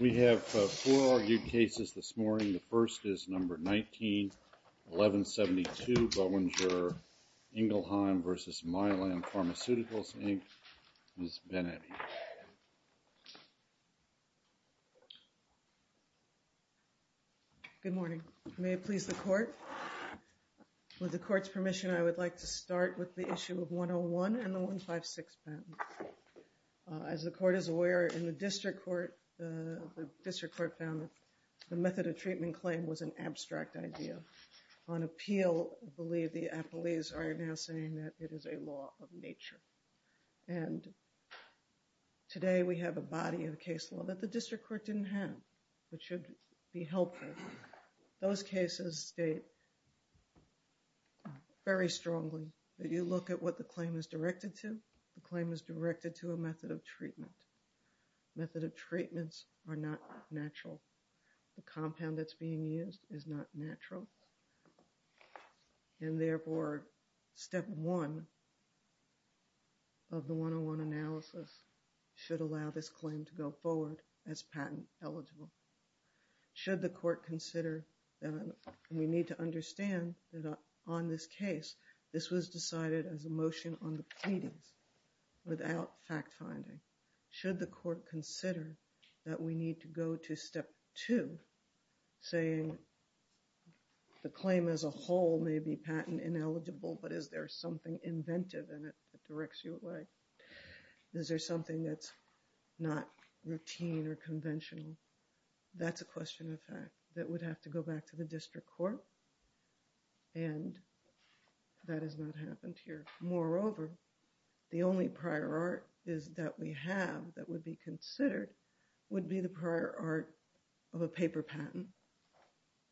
We have four argued cases this morning. The first is number 19-1172 Boehringer Ingelheim v. Mylan Pharmaceuticals Inc. Ms. Benetti. Good morning. May it please the court. With the court's permission, I would like to start with the issue of 101 and the 156 patent. As the court is aware, in the district court, the method of treatment claim was an abstract idea. On appeal, I believe the appellees are now saying that it is a law of nature. And today we have a body of case law that the district court didn't have, which should be helpful. Those cases state very strongly that you look at what the claim is directed to. The claim is directed to a method of treatment. Method of treatments are not natural. The compound that's being used is not natural. And therefore, step one of the 101 analysis should allow this claim to go forward as patent eligible. Should the court consider that we need to understand that on this case, this was decided as a motion on the pleadings without fact-finding. Should the court consider that we need to go to step two, saying the claim as a whole may be patent ineligible, but is there something inventive in it that directs you away? Is there something that's not routine or conventional? That's a question of fact that would have to go back to the district court. And that has not happened here. Moreover, the only prior art is that we have that would be considered would be the prior art of a paper patent.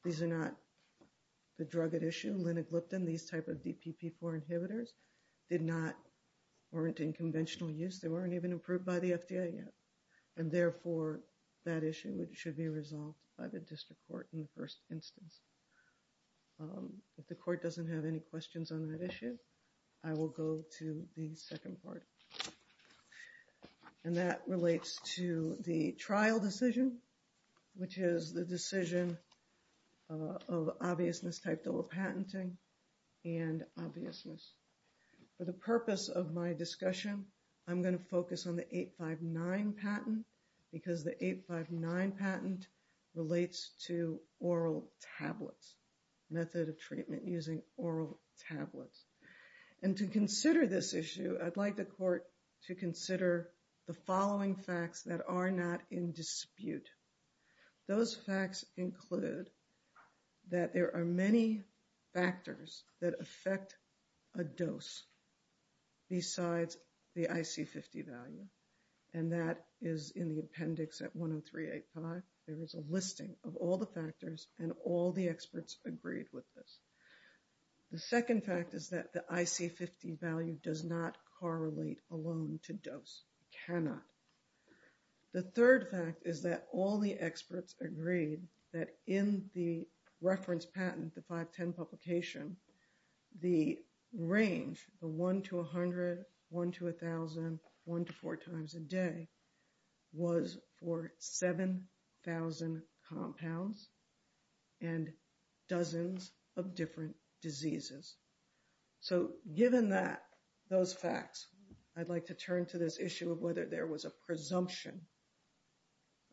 These are not the drug at issue, linagliptin, these type of DPP4 inhibitors did not warrant in conventional use. They weren't even approved by the FDA yet. And therefore, that issue should be resolved by the district court in the first instance. If the court doesn't have any questions on that issue, I will go to the second part. And that relates to the trial decision, which is the decision of obviousness type dual patenting and obviousness. For the purpose of my discussion, I'm going to focus on the 859 patent, because the 859 patent relates to oral tablets, method of treatment using oral tablets. And to consider this issue, I'd like the court to consider the following facts that are not in dispute. Those facts include that there are many factors that affect a dose besides the IC50 value. And that is in the appendix at 10385. There is a listing of all the factors and all the experts agreed with this. The second fact is that the IC50 value does not correlate alone to dose, cannot. The third fact is that all the experts agreed that in the reference patent, the 510 publication, the range, the 1 to 100, 1 to 1000, 1 to 4 times a day, was for 7,000 compounds and dozens of different diseases. So given that, those facts, I'd like to turn to this issue of whether there was a presumption,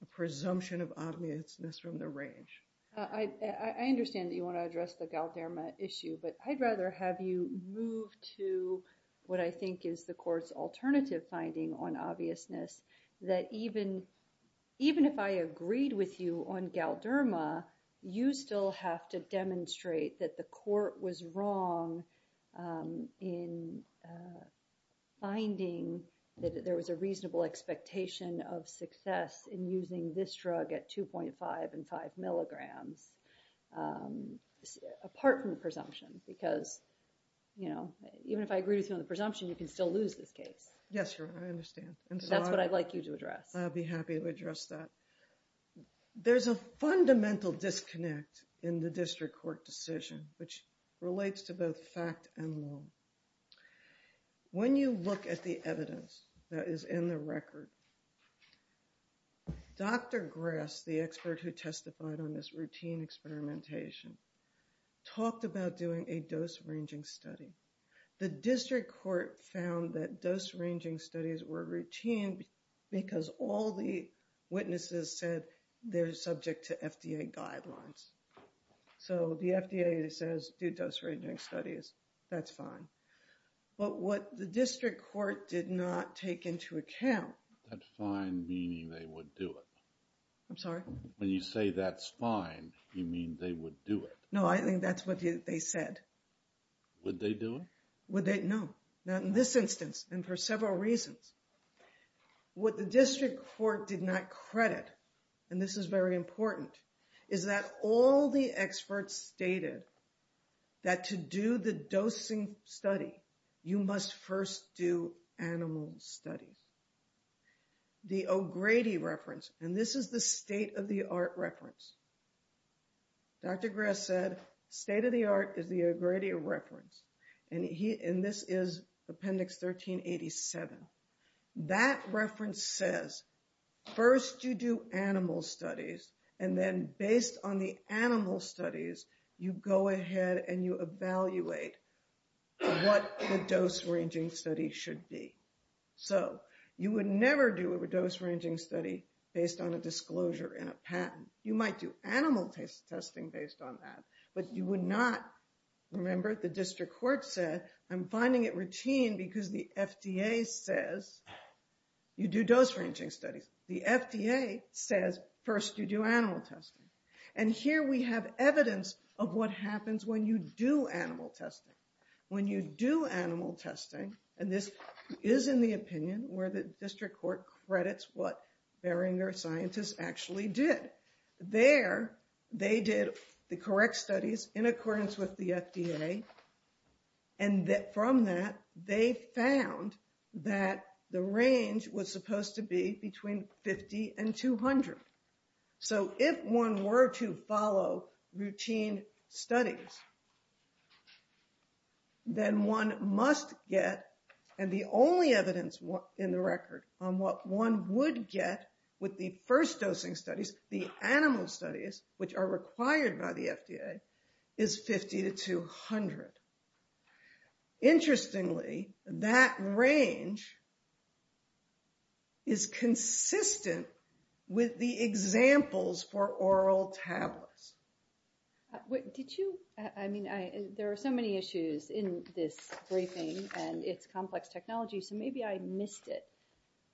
a presumption of obviousness from the range. I understand that you want to address the Galderma issue, but I'd rather have you move to what I think is the court's alternative finding on obviousness. That even if I agreed with you on Galderma, you still have to demonstrate that the court was wrong in finding that there was a reasonable expectation of success in using this drug at 2.5 and 5 milligrams. Apart from the presumption, because, you know, even if I agree with you on the presumption, you can still lose this case. Yes, Your Honor, I understand. That's what I'd like you to address. I'd be happy to address that. There's a fundamental disconnect in the district court decision, which relates to both fact and law. When you look at the evidence that is in the record, Dr. Grass, the expert who testified on this routine experimentation, talked about doing a dose ranging study. The district court found that dose ranging studies were routine because all the witnesses said they're subject to FDA guidelines. So the FDA says do dose ranging studies. That's fine. But what the district court did not take into account. That's fine, meaning they would do it. I'm sorry? When you say that's fine, you mean they would do it. No, I think that's what they said. Would they do it? Would they? No. Not in this instance, and for several reasons. What the district court did not credit, and this is very important, is that all the experts stated that to do the dosing study, you must first do animal studies. The O'Grady reference, and this is the state of the art reference. Dr. Grass said state of the art is the O'Grady reference, and this is appendix 1387. That reference says first you do animal studies, and then based on the animal studies, you go ahead and you evaluate what the dose ranging study should be. So you would never do a dose ranging study based on a disclosure in a patent. You might do animal testing based on that, but you would not, remember, the district court said I'm finding it routine because the FDA says you do dose ranging studies. The FDA says first you do animal testing. And here we have evidence of what happens when you do animal testing. When you do animal testing, and this is in the opinion where the district court credits what Beringer scientists actually did. There, they did the correct studies in accordance with the FDA, and from that, they found that the range was supposed to be between 50 and 200. So if one were to follow routine studies, then one must get, and the only evidence in the record on what one would get with the first dosing studies, the animal studies, which are required by the FDA, is 50 to 200. Interestingly, that range is consistent with the examples for oral tablets. Did you, I mean, there are so many issues in this briefing, and it's complex technology, so maybe I missed it.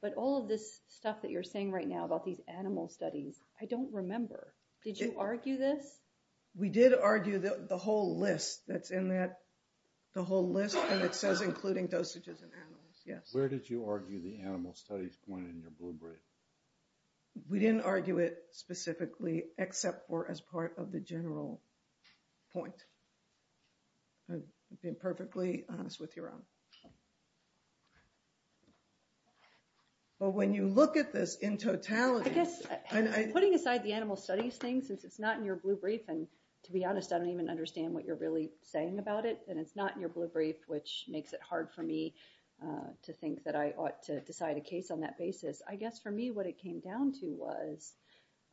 But all of this stuff that you're saying right now about these animal studies, I don't remember. Did you argue this? We did argue the whole list that's in that, the whole list, and it says including dosages in animals, yes. Where did you argue the animal studies point in your blue brief? We didn't argue it specifically, except for as part of the general point. I'm being perfectly honest with you, Ron. But when you look at this in totality. I guess, putting aside the animal studies thing, since it's not in your blue brief, and to be honest, I don't even understand what you're really saying about it, and it's not in your blue brief, which makes it hard for me to think that I ought to decide a case on that basis. I guess, for me, what it came down to was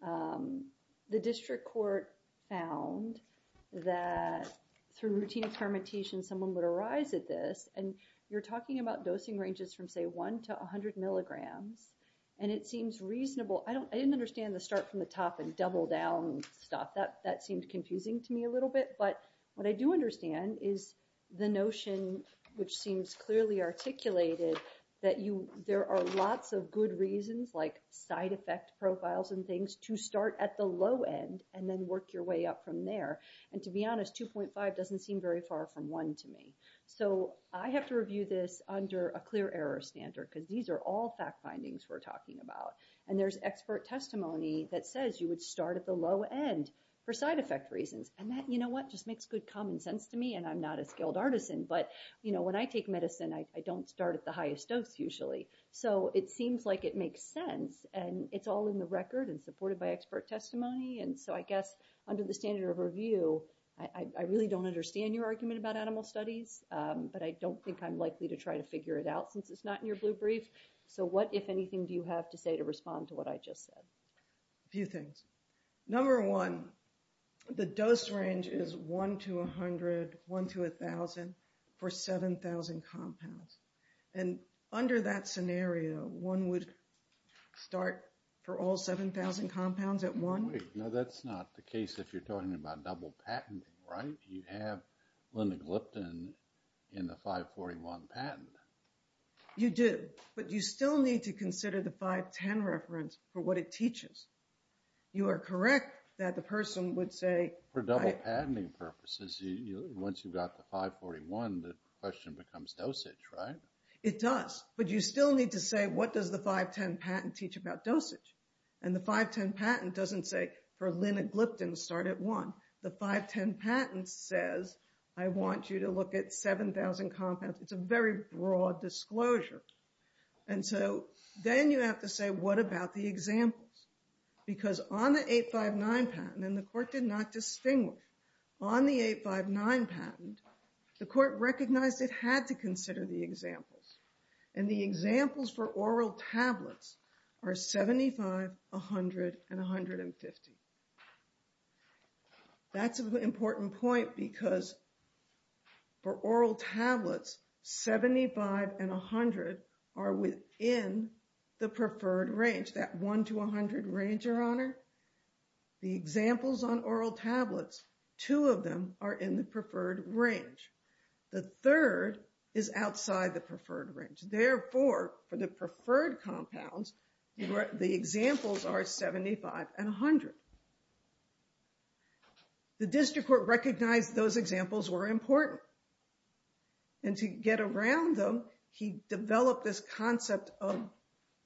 the district court found that through routine experimentation, someone would arise at this, and you're talking about dosing ranges from, say, 1 to 100 milligrams, and it seems reasonable. I didn't understand the start from the top and double down stuff. That seemed confusing to me a little bit, but what I do understand is the notion, which seems clearly articulated, that there are lots of good reasons, like side effect profiles and things, to start at the low end and then work your way up from there. And to be honest, 2.5 doesn't seem very far from 1 to me. So, I have to review this under a clear error standard, because these are all fact findings we're talking about. And there's expert testimony that says you would start at the low end for side effect reasons. And that, you know what, just makes good common sense to me, and I'm not a skilled artisan, but when I take medicine, I don't start at the highest dose, usually. So, it seems like it makes sense, and it's all in the record and supported by expert testimony. And so, I guess, under the standard of review, I really don't understand your argument about animal studies, but I don't think I'm likely to try to figure it out, since it's not in your blue brief. So, what, if anything, do you have to say to respond to what I just said? A few things. Number one, the dose range is 1 to 100, 1 to 1,000 for 7,000 compounds. And under that scenario, one would start for all 7,000 compounds at one? No, that's not the case if you're talking about double patenting, right? You have linagliptin in the 541 patent. You do, but you still need to consider the 510 reference for what it teaches. You are correct that the person would say... For double patenting purposes, once you've got the 541, the question becomes dosage, right? It does, but you still need to say, what does the 510 patent teach about dosage? And the 510 patent doesn't say, for linagliptin, start at one. The 510 patent says, I want you to look at 7,000 compounds. It's a very broad disclosure. And so then you have to say, what about the examples? Because on the 859 patent, and the court did not distinguish, on the 859 patent, the court recognized it had to consider the examples. And the examples for oral tablets are 75, 100, and 150. That's an important point because for oral tablets, 75 and 100 are within the preferred range. That 1 to 100 range, Your Honor. The examples on oral tablets, two of them are in the preferred range. The third is outside the preferred range. Therefore, for the preferred compounds, the examples are 75 and 100. The district court recognized those examples were important. And to get around them, he developed this concept of,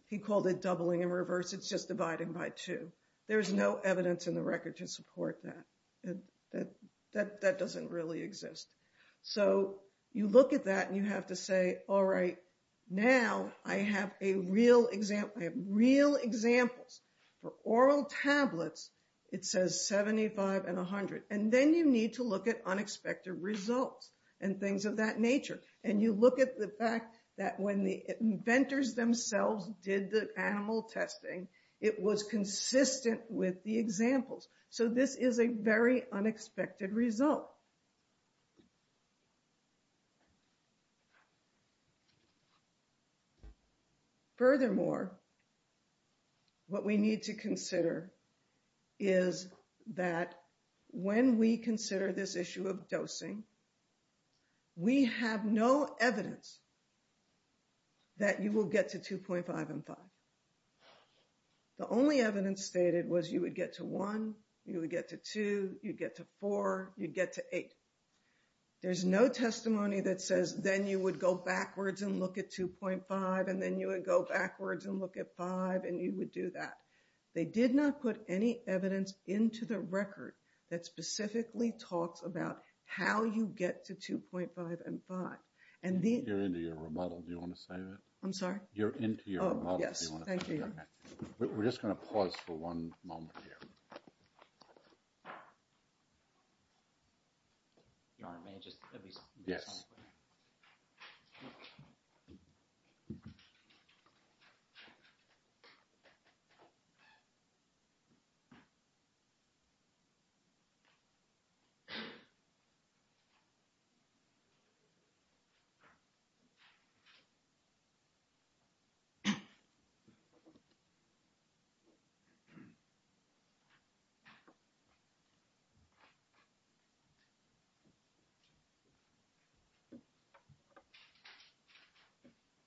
he called it doubling in reverse. It's just dividing by two. There's no evidence in the record to support that. That doesn't really exist. So you look at that and you have to say, all right, now I have real examples. For oral tablets, it says 75 and 100. And then you need to look at unexpected results and things of that nature. And you look at the fact that when the inventors themselves did the animal testing, it was consistent with the examples. So this is a very unexpected result. Furthermore, what we need to consider is that when we consider this issue of dosing, we have no evidence that you will get to 2.5 and 5. The only evidence stated was you would get to 1, you would get to 2, you'd get to 4, you'd get to 8. There's no testimony that says then you would go backwards and look at 2.5 and then you would go backwards and look at 5 and you would do that. They did not put any evidence into the record that specifically talks about how you get to 2.5 and 5. You're into your remodel. Do you want to say that? I'm sorry? Oh, yes. Thank you. We're just going to pause for one moment here.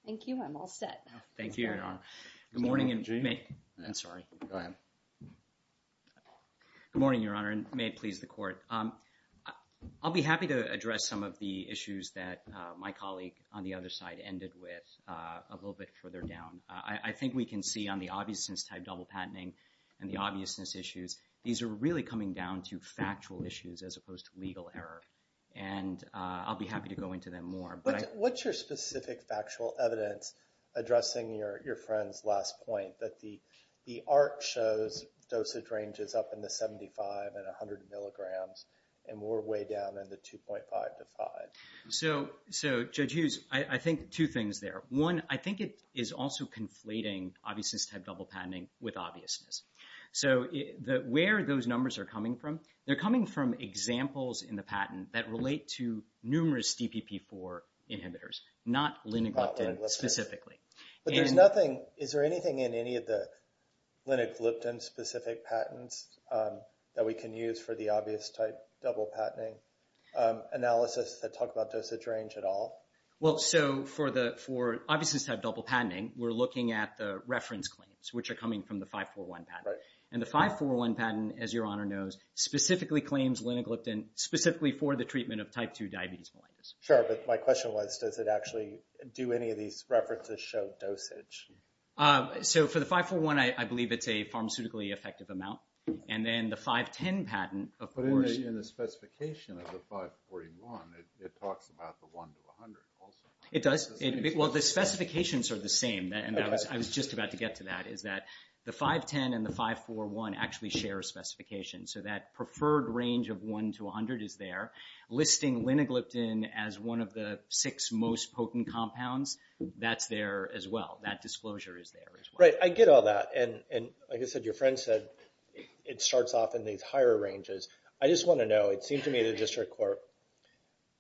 Thank you. I'm all set. Thank you, Your Honor. Good morning. I'm sorry. Go ahead. Good morning, Your Honor, and may it please the Court. I'll be happy to address some of the issues that my colleague on the other side ended with a little bit further down. The obviousness type double patenting and the obviousness issues, these are really coming down to factual issues as opposed to legal error, and I'll be happy to go into them more. What's your specific factual evidence addressing your friend's last point, that the art shows dosage ranges up in the 75 and 100 milligrams and we're way down in the 2.5 to 5? So, Judge Hughes, I think two things there. One, I think it is also conflating obviousness type double patenting with obviousness. So, where are those numbers coming from? They're coming from examples in the patent that relate to numerous DPP-4 inhibitors, not linagliptin specifically. But there's nothing – is there anything in any of the linagliptin-specific patents that we can use for the obvious type double patenting analysis that talk about dosage range at all? Well, so for the – for obviousness type double patenting, we're looking at the reference claims, which are coming from the 541 patent. And the 541 patent, as Your Honor knows, specifically claims linagliptin, specifically for the treatment of type 2 diabetes mellitus. Sure, but my question was, does it actually do any of these references show dosage? So, for the 541, I believe it's a pharmaceutically effective amount. And then the 510 patent, of course – But in the specification of the 541, it talks about the 1 to 100 also. It does. Well, the specifications are the same. And I was just about to get to that, is that the 510 and the 541 actually share a specification. So, that preferred range of 1 to 100 is there. Listing linagliptin as one of the six most potent compounds, that's there as well. That disclosure is there as well. Right. I get all that. And, like I said, your friend said it starts off in these higher ranges. I just want to know, it seemed to me the district court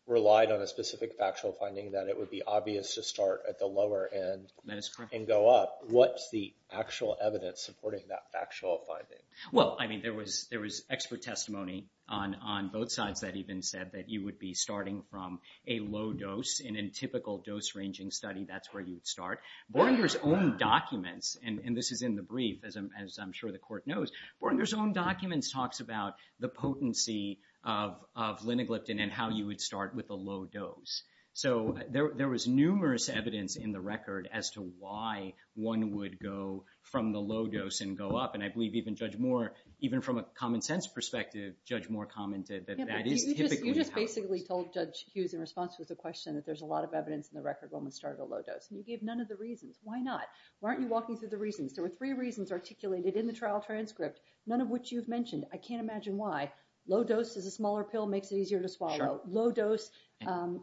relied on a specific factual finding that it would be obvious to start at the lower end. That is correct. And go up. What's the actual evidence supporting that factual finding? Well, I mean, there was expert testimony on both sides that even said that you would be starting from a low dose. And in a typical dose-ranging study, that's where you would start. Borger's own documents, and this is in the brief, as I'm sure the court knows, Borger's own documents talks about the potency of linagliptin and how you would start with a low dose. So, there was numerous evidence in the record as to why one would go from the low dose and go up. And I believe even Judge Moore, even from a common-sense perspective, Judge Moore commented that that is typically the case. Yeah, but you just basically told Judge Hughes in response to the question that there's a lot of evidence in the record that one would start at a low dose. And you gave none of the reasons. Why not? Why aren't you walking through the reasons? There were three reasons articulated in the trial transcript, none of which you've mentioned. I can't imagine why. Low dose is a smaller pill, makes it easier to swallow. Sure. Low dose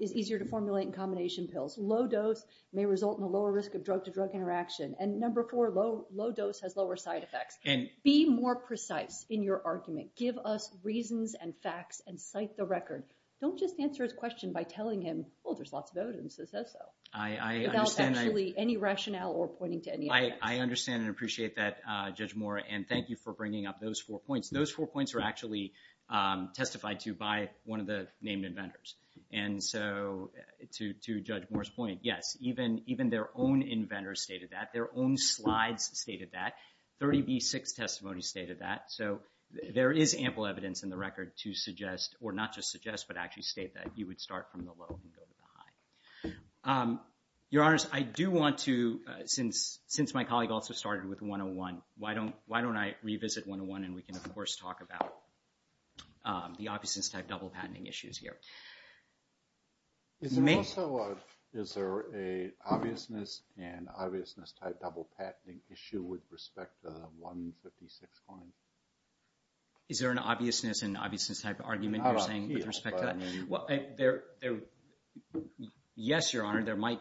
is easier to formulate in combination pills. Low dose may result in a lower risk of drug-to-drug interaction. And number four, low dose has lower side effects. Be more precise in your argument. Give us reasons and facts and cite the record. Don't just answer his question by telling him, well, there's lots of evidence that says so. Without actually any rationale or pointing to any evidence. I understand and appreciate that, Judge Moore. And thank you for bringing up those four points. Those four points are actually testified to by one of the named inventors. And so, to Judge Moore's point, yes, even their own inventor stated that. Their own slides stated that. 30B6 testimony stated that. So, there is ample evidence in the record to suggest, or not just suggest, but actually state that you would start from the low and go to the high. Your Honors, I do want to, since my colleague also started with 101, why don't I revisit 101 and we can, of course, talk about the obviousness-type double-patenting issues here. Is there also an obviousness and obviousness-type double-patenting issue with respect to the 156 coin? Is there an obviousness and obviousness-type argument you're saying with respect to that? Well, yes, Your Honor. There might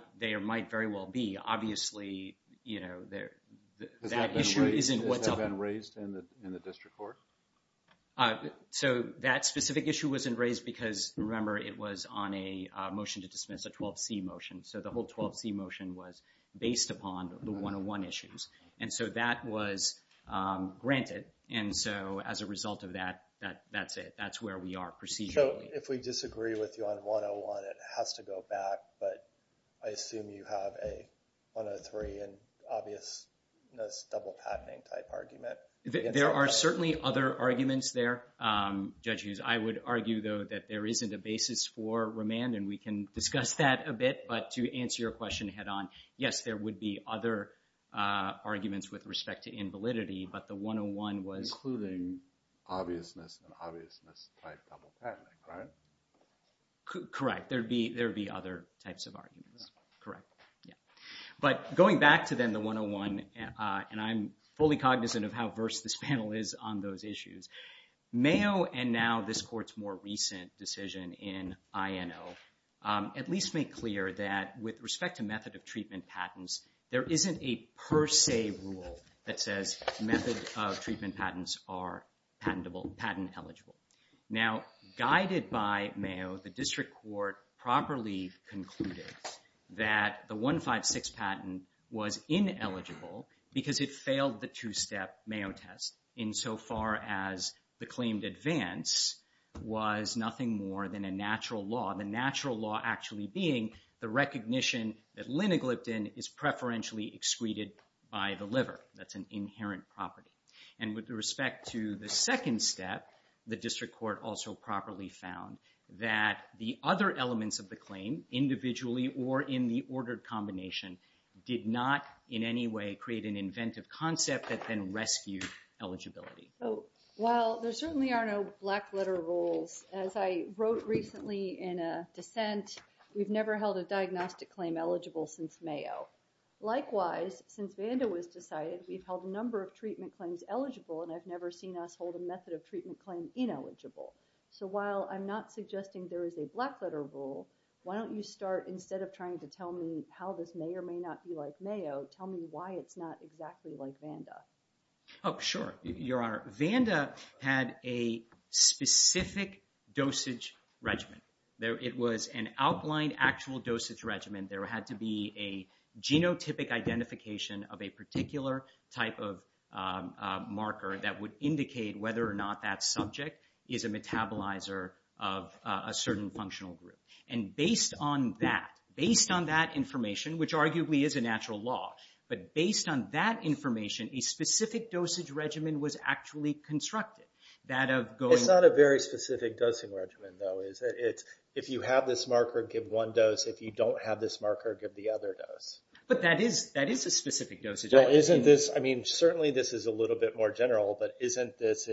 very well be. Obviously, you know, that issue isn't what's... Has that been raised in the district court? So, that specific issue wasn't raised because, remember, it was on a motion to dismiss, a 12C motion. So, the whole 12C motion was based upon the 101 issues. And so, that was granted. And so, as a result of that, that's it. That's where we are procedurally. So, if we disagree with you on 101, it has to go back. But I assume you have a 103 and obviousness double-patenting-type argument. There are certainly other arguments there, Judge Hughes. I would argue, though, that there isn't a basis for remand, and we can discuss that a bit. But to answer your question head-on, yes, there would be other arguments with respect to invalidity. But the 101 was... Obviousness and obviousness-type double-patenting, right? Correct. There would be other types of arguments. Correct. Yeah. But going back to, then, the 101, and I'm fully cognizant of how versed this panel is on those issues, Mayo and now this Court's more recent decision in INO at least make clear that, with respect to method of treatment patents, there isn't a per se rule that says method of treatment patents are patent-eligible. Now, guided by Mayo, the District Court properly concluded that the 156 patent was ineligible because it failed the two-step Mayo test insofar as the claimed advance was nothing more than a natural law, the natural law actually being the recognition that linagliptin is preferentially excreted by the liver. That's an inherent property. And with respect to the second step, the District Court also properly found that the other elements of the claim, individually or in the ordered combination, did not in any way create an inventive concept that then rescued eligibility. Well, there certainly are no black-letter rules. As I wrote recently in a dissent, we've never held a diagnostic claim eligible since Mayo. Likewise, since Vanda was decided, we've held a number of treatment claims eligible, and I've never seen us hold a method of treatment claim ineligible. So while I'm not suggesting there is a black-letter rule, why don't you start, instead of trying to tell me how this may or may not be like Mayo, tell me why it's not exactly like Vanda. Oh, sure, Your Honor. Vanda had a specific dosage regimen. It was an outlined actual dosage regimen. There had to be a genotypic identification of a particular type of marker that would indicate whether or not that subject is a metabolizer of a certain functional group. And based on that, based on that information, which arguably is a natural law, but based on that information, a specific dosage regimen was actually constructed. It's not a very specific dosing regimen, though. It's if you have this marker, give one dose. If you don't have this marker, give the other dose. But that is a specific dosage. Well, isn't this, I mean, certainly this is a little bit more general, but isn't this,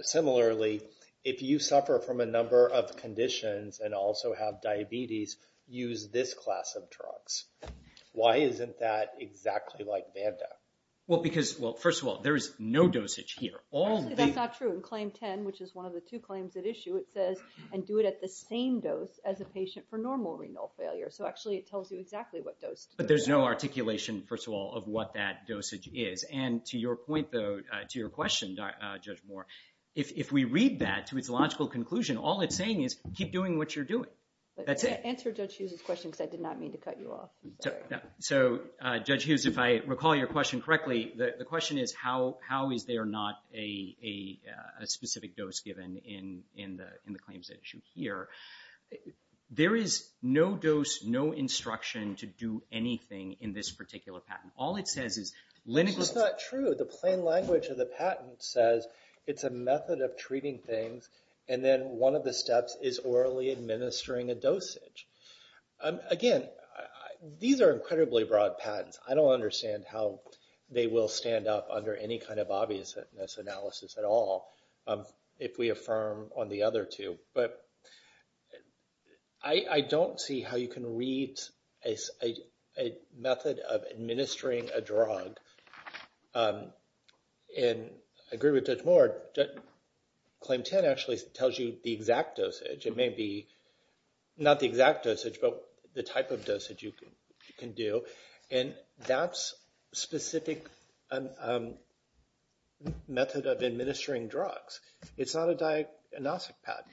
similarly, if you suffer from a number of conditions and also have diabetes, use this class of drugs. Why isn't that exactly like Vanda? Well, because, well, first of all, there is no dosage here. Actually, that's not true. In Claim 10, which is one of the two claims at issue, it says, and do it at the same dose as a patient for normal renal failure. So actually it tells you exactly what dose. But there's no articulation, first of all, of what that dosage is. And to your point, though, to your question, Judge Moore, if we read that to its logical conclusion, all it's saying is keep doing what you're doing. Answer Judge Hughes' question because I did not mean to cut you off. So, Judge Hughes, if I recall your question correctly, the question is how is there not a specific dose given in the claims at issue here. There is no dose, no instruction to do anything in this particular patent. All it says is liniculous. That's not true. The plain language of the patent says it's a method of treating things, and then one of the steps is orally administering a dosage. Again, these are incredibly broad patents. I don't understand how they will stand up under any kind of obviousness analysis at all, if we affirm on the other two. But I don't see how you can read a method of administering a drug. And I agree with Judge Moore. Claim 10 actually tells you the exact dosage. It may be not the exact dosage, but the type of dosage you can do. And that's specific method of administering drugs. It's not a diagnostic patent.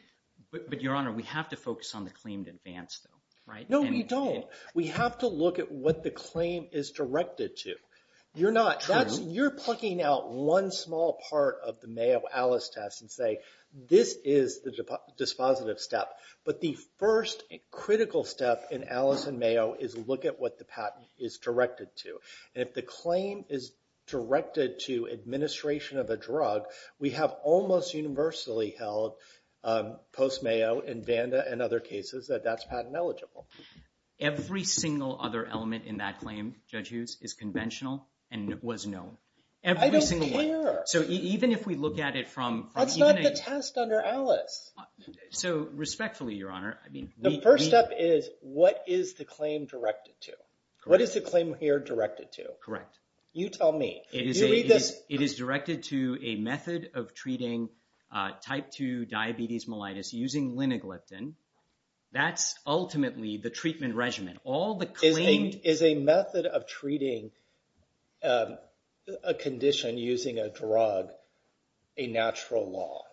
But, Your Honor, we have to focus on the claim to advance, though, right? No, we don't. We have to look at what the claim is directed to. You're not. You're plucking out one small part of the Mayo Alice test and say, this is the dispositive step. But the first critical step in Alice and Mayo is look at what the patent is directed to. And if the claim is directed to administration of a drug, we have almost universally held, post-Mayo and Vanda and other cases, that that's patent eligible. Every single other element in that claim, Judge Hughes, is conventional and was known. I don't care. So even if we look at it from. That's not the test under Alice. So respectfully, Your Honor. The first step is what is the claim directed to? What is the claim here directed to? Correct. You tell me. It is directed to a method of treating type 2 diabetes mellitus using linagliptin. That's ultimately the treatment regimen. Is a method of treating a condition using a drug a natural law?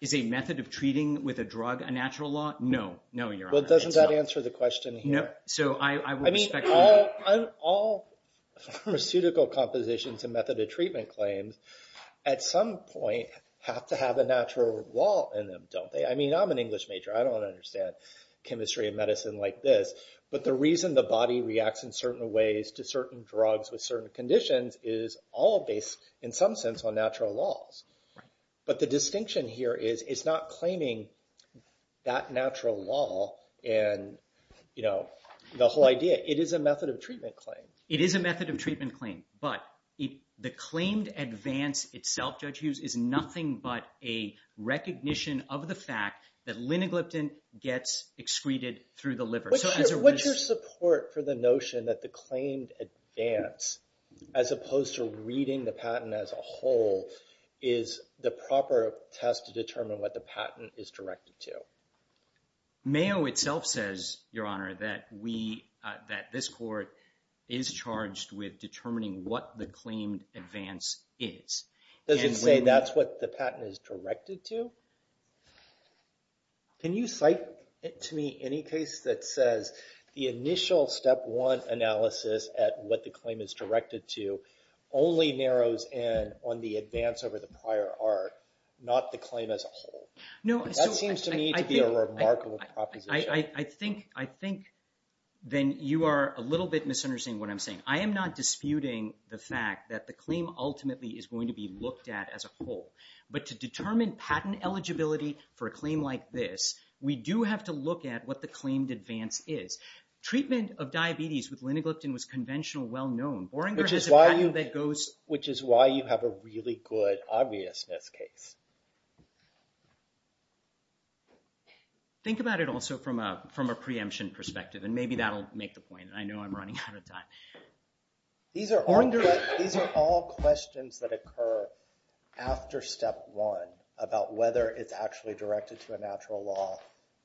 Is a method of treating with a drug a natural law? No, Your Honor. Well, doesn't that answer the question here? No. I mean, all pharmaceutical compositions and method of treatment claims, at some point, have to have a natural law in them, don't they? I mean, I'm an English major. I don't understand chemistry and medicine like this. But the reason the body reacts in certain ways to certain drugs with certain conditions is all based, in some sense, on natural laws. But the distinction here is it's not claiming that natural law and, you know, the whole idea. It is a method of treatment claim. It is a method of treatment claim. But the claimed advance itself, Judge Hughes, is nothing but a recognition of the fact that linagliptin gets excreted through the liver. What's your support for the notion that the claimed advance, as opposed to reading the patent as a whole, is the proper test to determine what the patent is directed to? Mayo itself says, Your Honor, that this court is charged with determining what the claimed advance is. Does it say that's what the patent is directed to? Can you cite to me any case that says the initial step one analysis at what the claim is directed to only narrows in on the advance over the prior art, not the claim as a whole? That seems to me to be a remarkable proposition. I think then you are a little bit misunderstanding what I'm saying. I am not disputing the fact that the claim ultimately is going to be looked at as a whole. But to determine patent eligibility for a claim like this, we do have to look at what the claimed advance is. Treatment of diabetes with linagliptin was conventional well-known. Which is why you have a really good obviousness case. Think about it also from a preemption perspective, and maybe that'll make the point. I know I'm running out of time. These are all questions that occur after step one, about whether it's actually directed to a natural law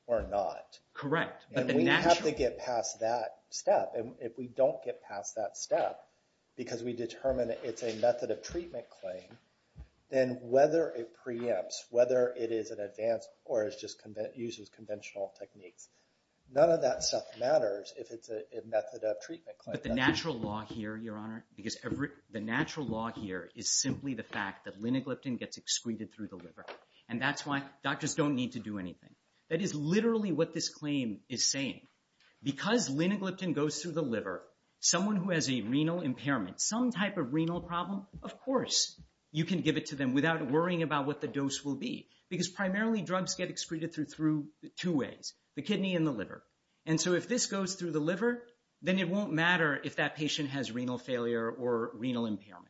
or not. Correct. We have to get past that step. And if we don't get past that step, because we determine it's a method of treatment claim, then whether it preempts, whether it is an advance or uses conventional techniques, none of that stuff matters if it's a method of treatment claim. But the natural law here, Your Honor, is simply the fact that linagliptin gets excreted through the liver. And that's why doctors don't need to do anything. That is literally what this claim is saying. Because linagliptin goes through the liver, someone who has a renal impairment, some type of renal problem, of course you can give it to them without worrying about what the dose will be. Because primarily drugs get excreted through two ways, the kidney and the liver. And so if this goes through the liver, then it won't matter if that patient has renal failure or renal impairment.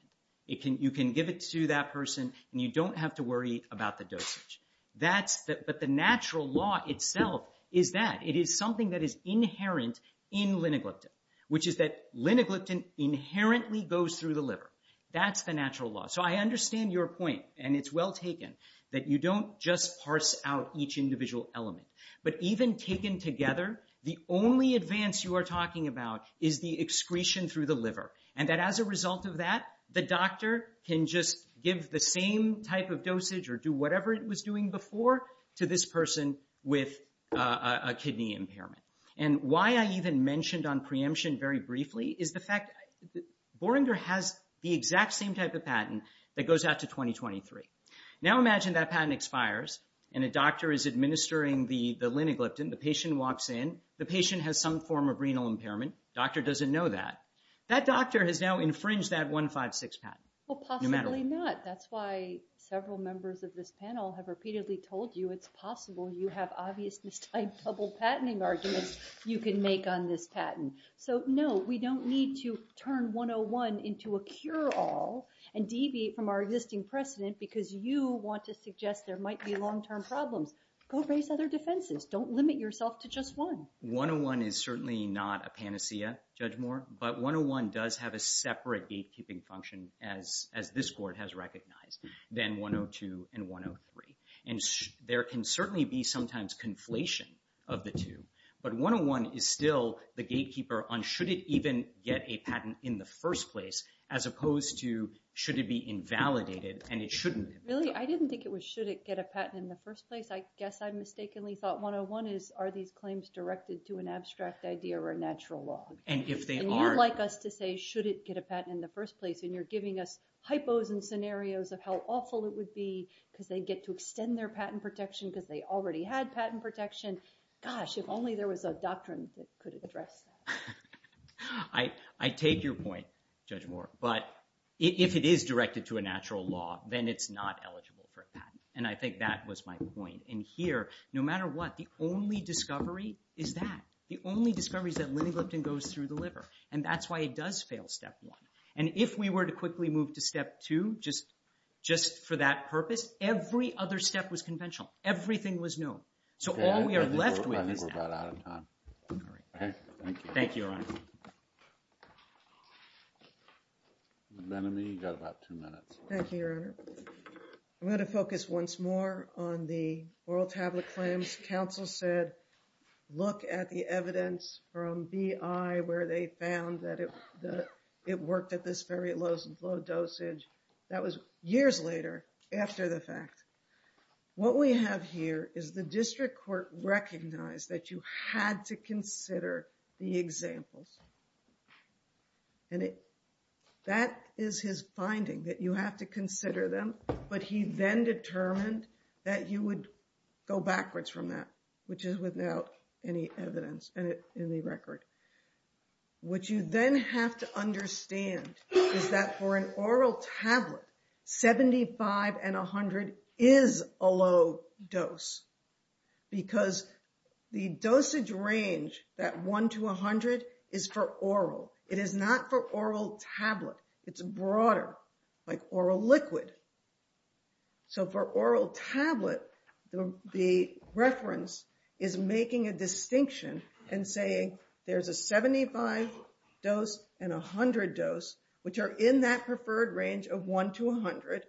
You can give it to that person, and you don't have to worry about the dosage. But the natural law itself is that it is something that is inherent in linagliptin, which is that linagliptin inherently goes through the liver. That's the natural law. So I understand your point, and it's well taken, that you don't just parse out each individual element. But even taken together, the only advance you are talking about is the excretion through the liver. And that as a result of that, the doctor can just give the same type of dosage or do whatever it was doing before to this person with a kidney impairment. And why I even mentioned on preemption very briefly is the fact that Borender has the exact same type of patent that goes out to 2023. Now imagine that patent expires, and a doctor is administering the linagliptin. The patient walks in. The patient has some form of renal impairment. The doctor doesn't know that. That doctor has now infringed that 156 patent. No matter what. Well, possibly not. That's why several members of this panel have repeatedly told you it's possible you have obvious mistyped double patenting arguments you can make on this patent. So no, we don't need to turn 101 into a cure-all and deviate from our existing precedent because you want to suggest there might be long-term problems. Go raise other defenses. Don't limit yourself to just one. 101 is certainly not a panacea, Judge Moore, but 101 does have a separate gatekeeping function, as this court has recognized, than 102 and 103. And there can certainly be sometimes conflation of the two, but 101 is still the gatekeeper on should it even get a patent in the first place as opposed to should it be invalidated and it shouldn't be. Really? I didn't think it was should it get a patent in the first place. I guess I mistakenly thought 101 is are these claims directed to an abstract idea or a natural law? And you'd like us to say should it get a patent in the first place, and you're giving us hypos and scenarios of how awful it would be because they get to extend their patent protection because they already had patent protection. Gosh, if only there was a doctrine that could address that. I take your point, Judge Moore, but if it is directed to a natural law, then it's not eligible for a patent. And I think that was my point. And here, no matter what, the only discovery is that. The only discovery is that linagliptin goes through the liver, and that's why it does fail Step 1. And if we were to quickly move to Step 2 just for that purpose, every other step was conventional. Everything was new. So all we are left with is that. I think we're about out of time. All right. Thank you. Thank you, Your Honor. The Venemy got about two minutes. Thank you, Your Honor. I'm going to focus once more on the oral tablet claims. Counsel said, look at the evidence from BI where they found that it worked at this very low dosage. That was years later after the fact. What we have here is the district court recognized that you had to consider the examples. And that is his finding, that you have to consider them. But he then determined that you would go backwards from that, which is without any evidence in the record. What you then have to understand is that for an oral tablet, 75 and 100 is a low dose. Because the dosage range, that 1 to 100, is for oral. It is not for oral tablet. It's broader, like oral liquid. So for oral tablet, the reference is making a distinction and saying, there's a 75 dose and a 100 dose, which are in that preferred range of 1 to 100.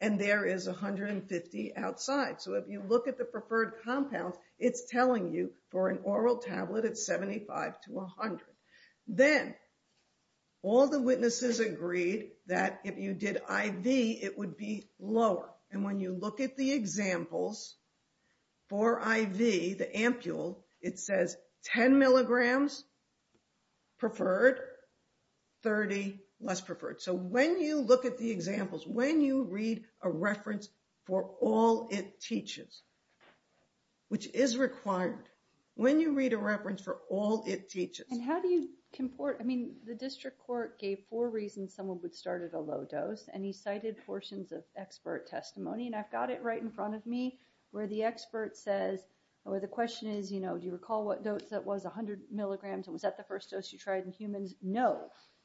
And there is 150 outside. So if you look at the preferred compound, it's telling you for an oral tablet, it's 75 to 100. Then all the witnesses agreed that if you did IV, it would be lower. And when you look at the examples for IV, the ampule, it says 10 milligrams preferred, 30 less preferred. So when you look at the examples, when you read a reference for all it teaches, which is required, when you read a reference for all it teaches. And how do you comport? I mean, the district court gave four reasons someone would start at a low dose. And he cited portions of expert testimony. And I've got it right in front of me, where the expert says, or the question is, you know, do you recall what dose that was, 100 milligrams? And was that the first dose you tried in humans? No.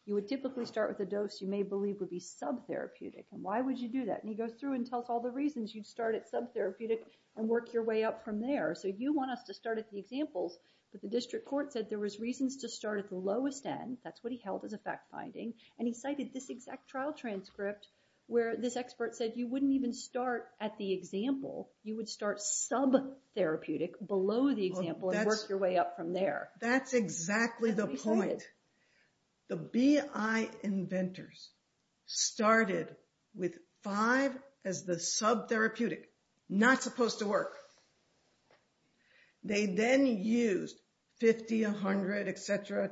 You would typically start with a dose you may believe would be sub-therapeutic. And why would you do that? And he goes through and tells all the reasons you'd start at sub-therapeutic and work your way up from there. So you want us to start at the examples, but the district court said there was reasons to start at the lowest end. That's what he held as a fact-finding. And he cited this exact trial transcript where this expert said you wouldn't even start at the example. You would start sub-therapeutic below the example and work your way up from there. That's exactly the point. The BI inventors started with five as the sub-therapeutic. Not supposed to work. They then used 50, 100, et cetera,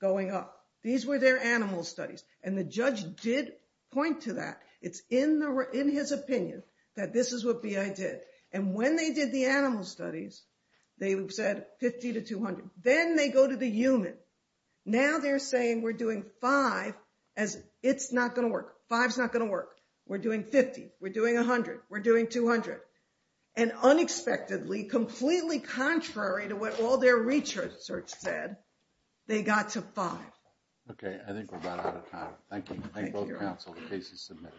going up. These were their animal studies. And the judge did point to that. It's in his opinion that this is what BI did. And when they did the animal studies, they said 50 to 200. Then they go to the human. Now they're saying we're doing five as it's not going to work. Five's not going to work. We're doing 50. We're doing 100. We're doing 200. And unexpectedly, completely contrary to what all their research said, they got to five. Okay. I think we're about out of time. Thank you. Thank both counsel. The case is submitted.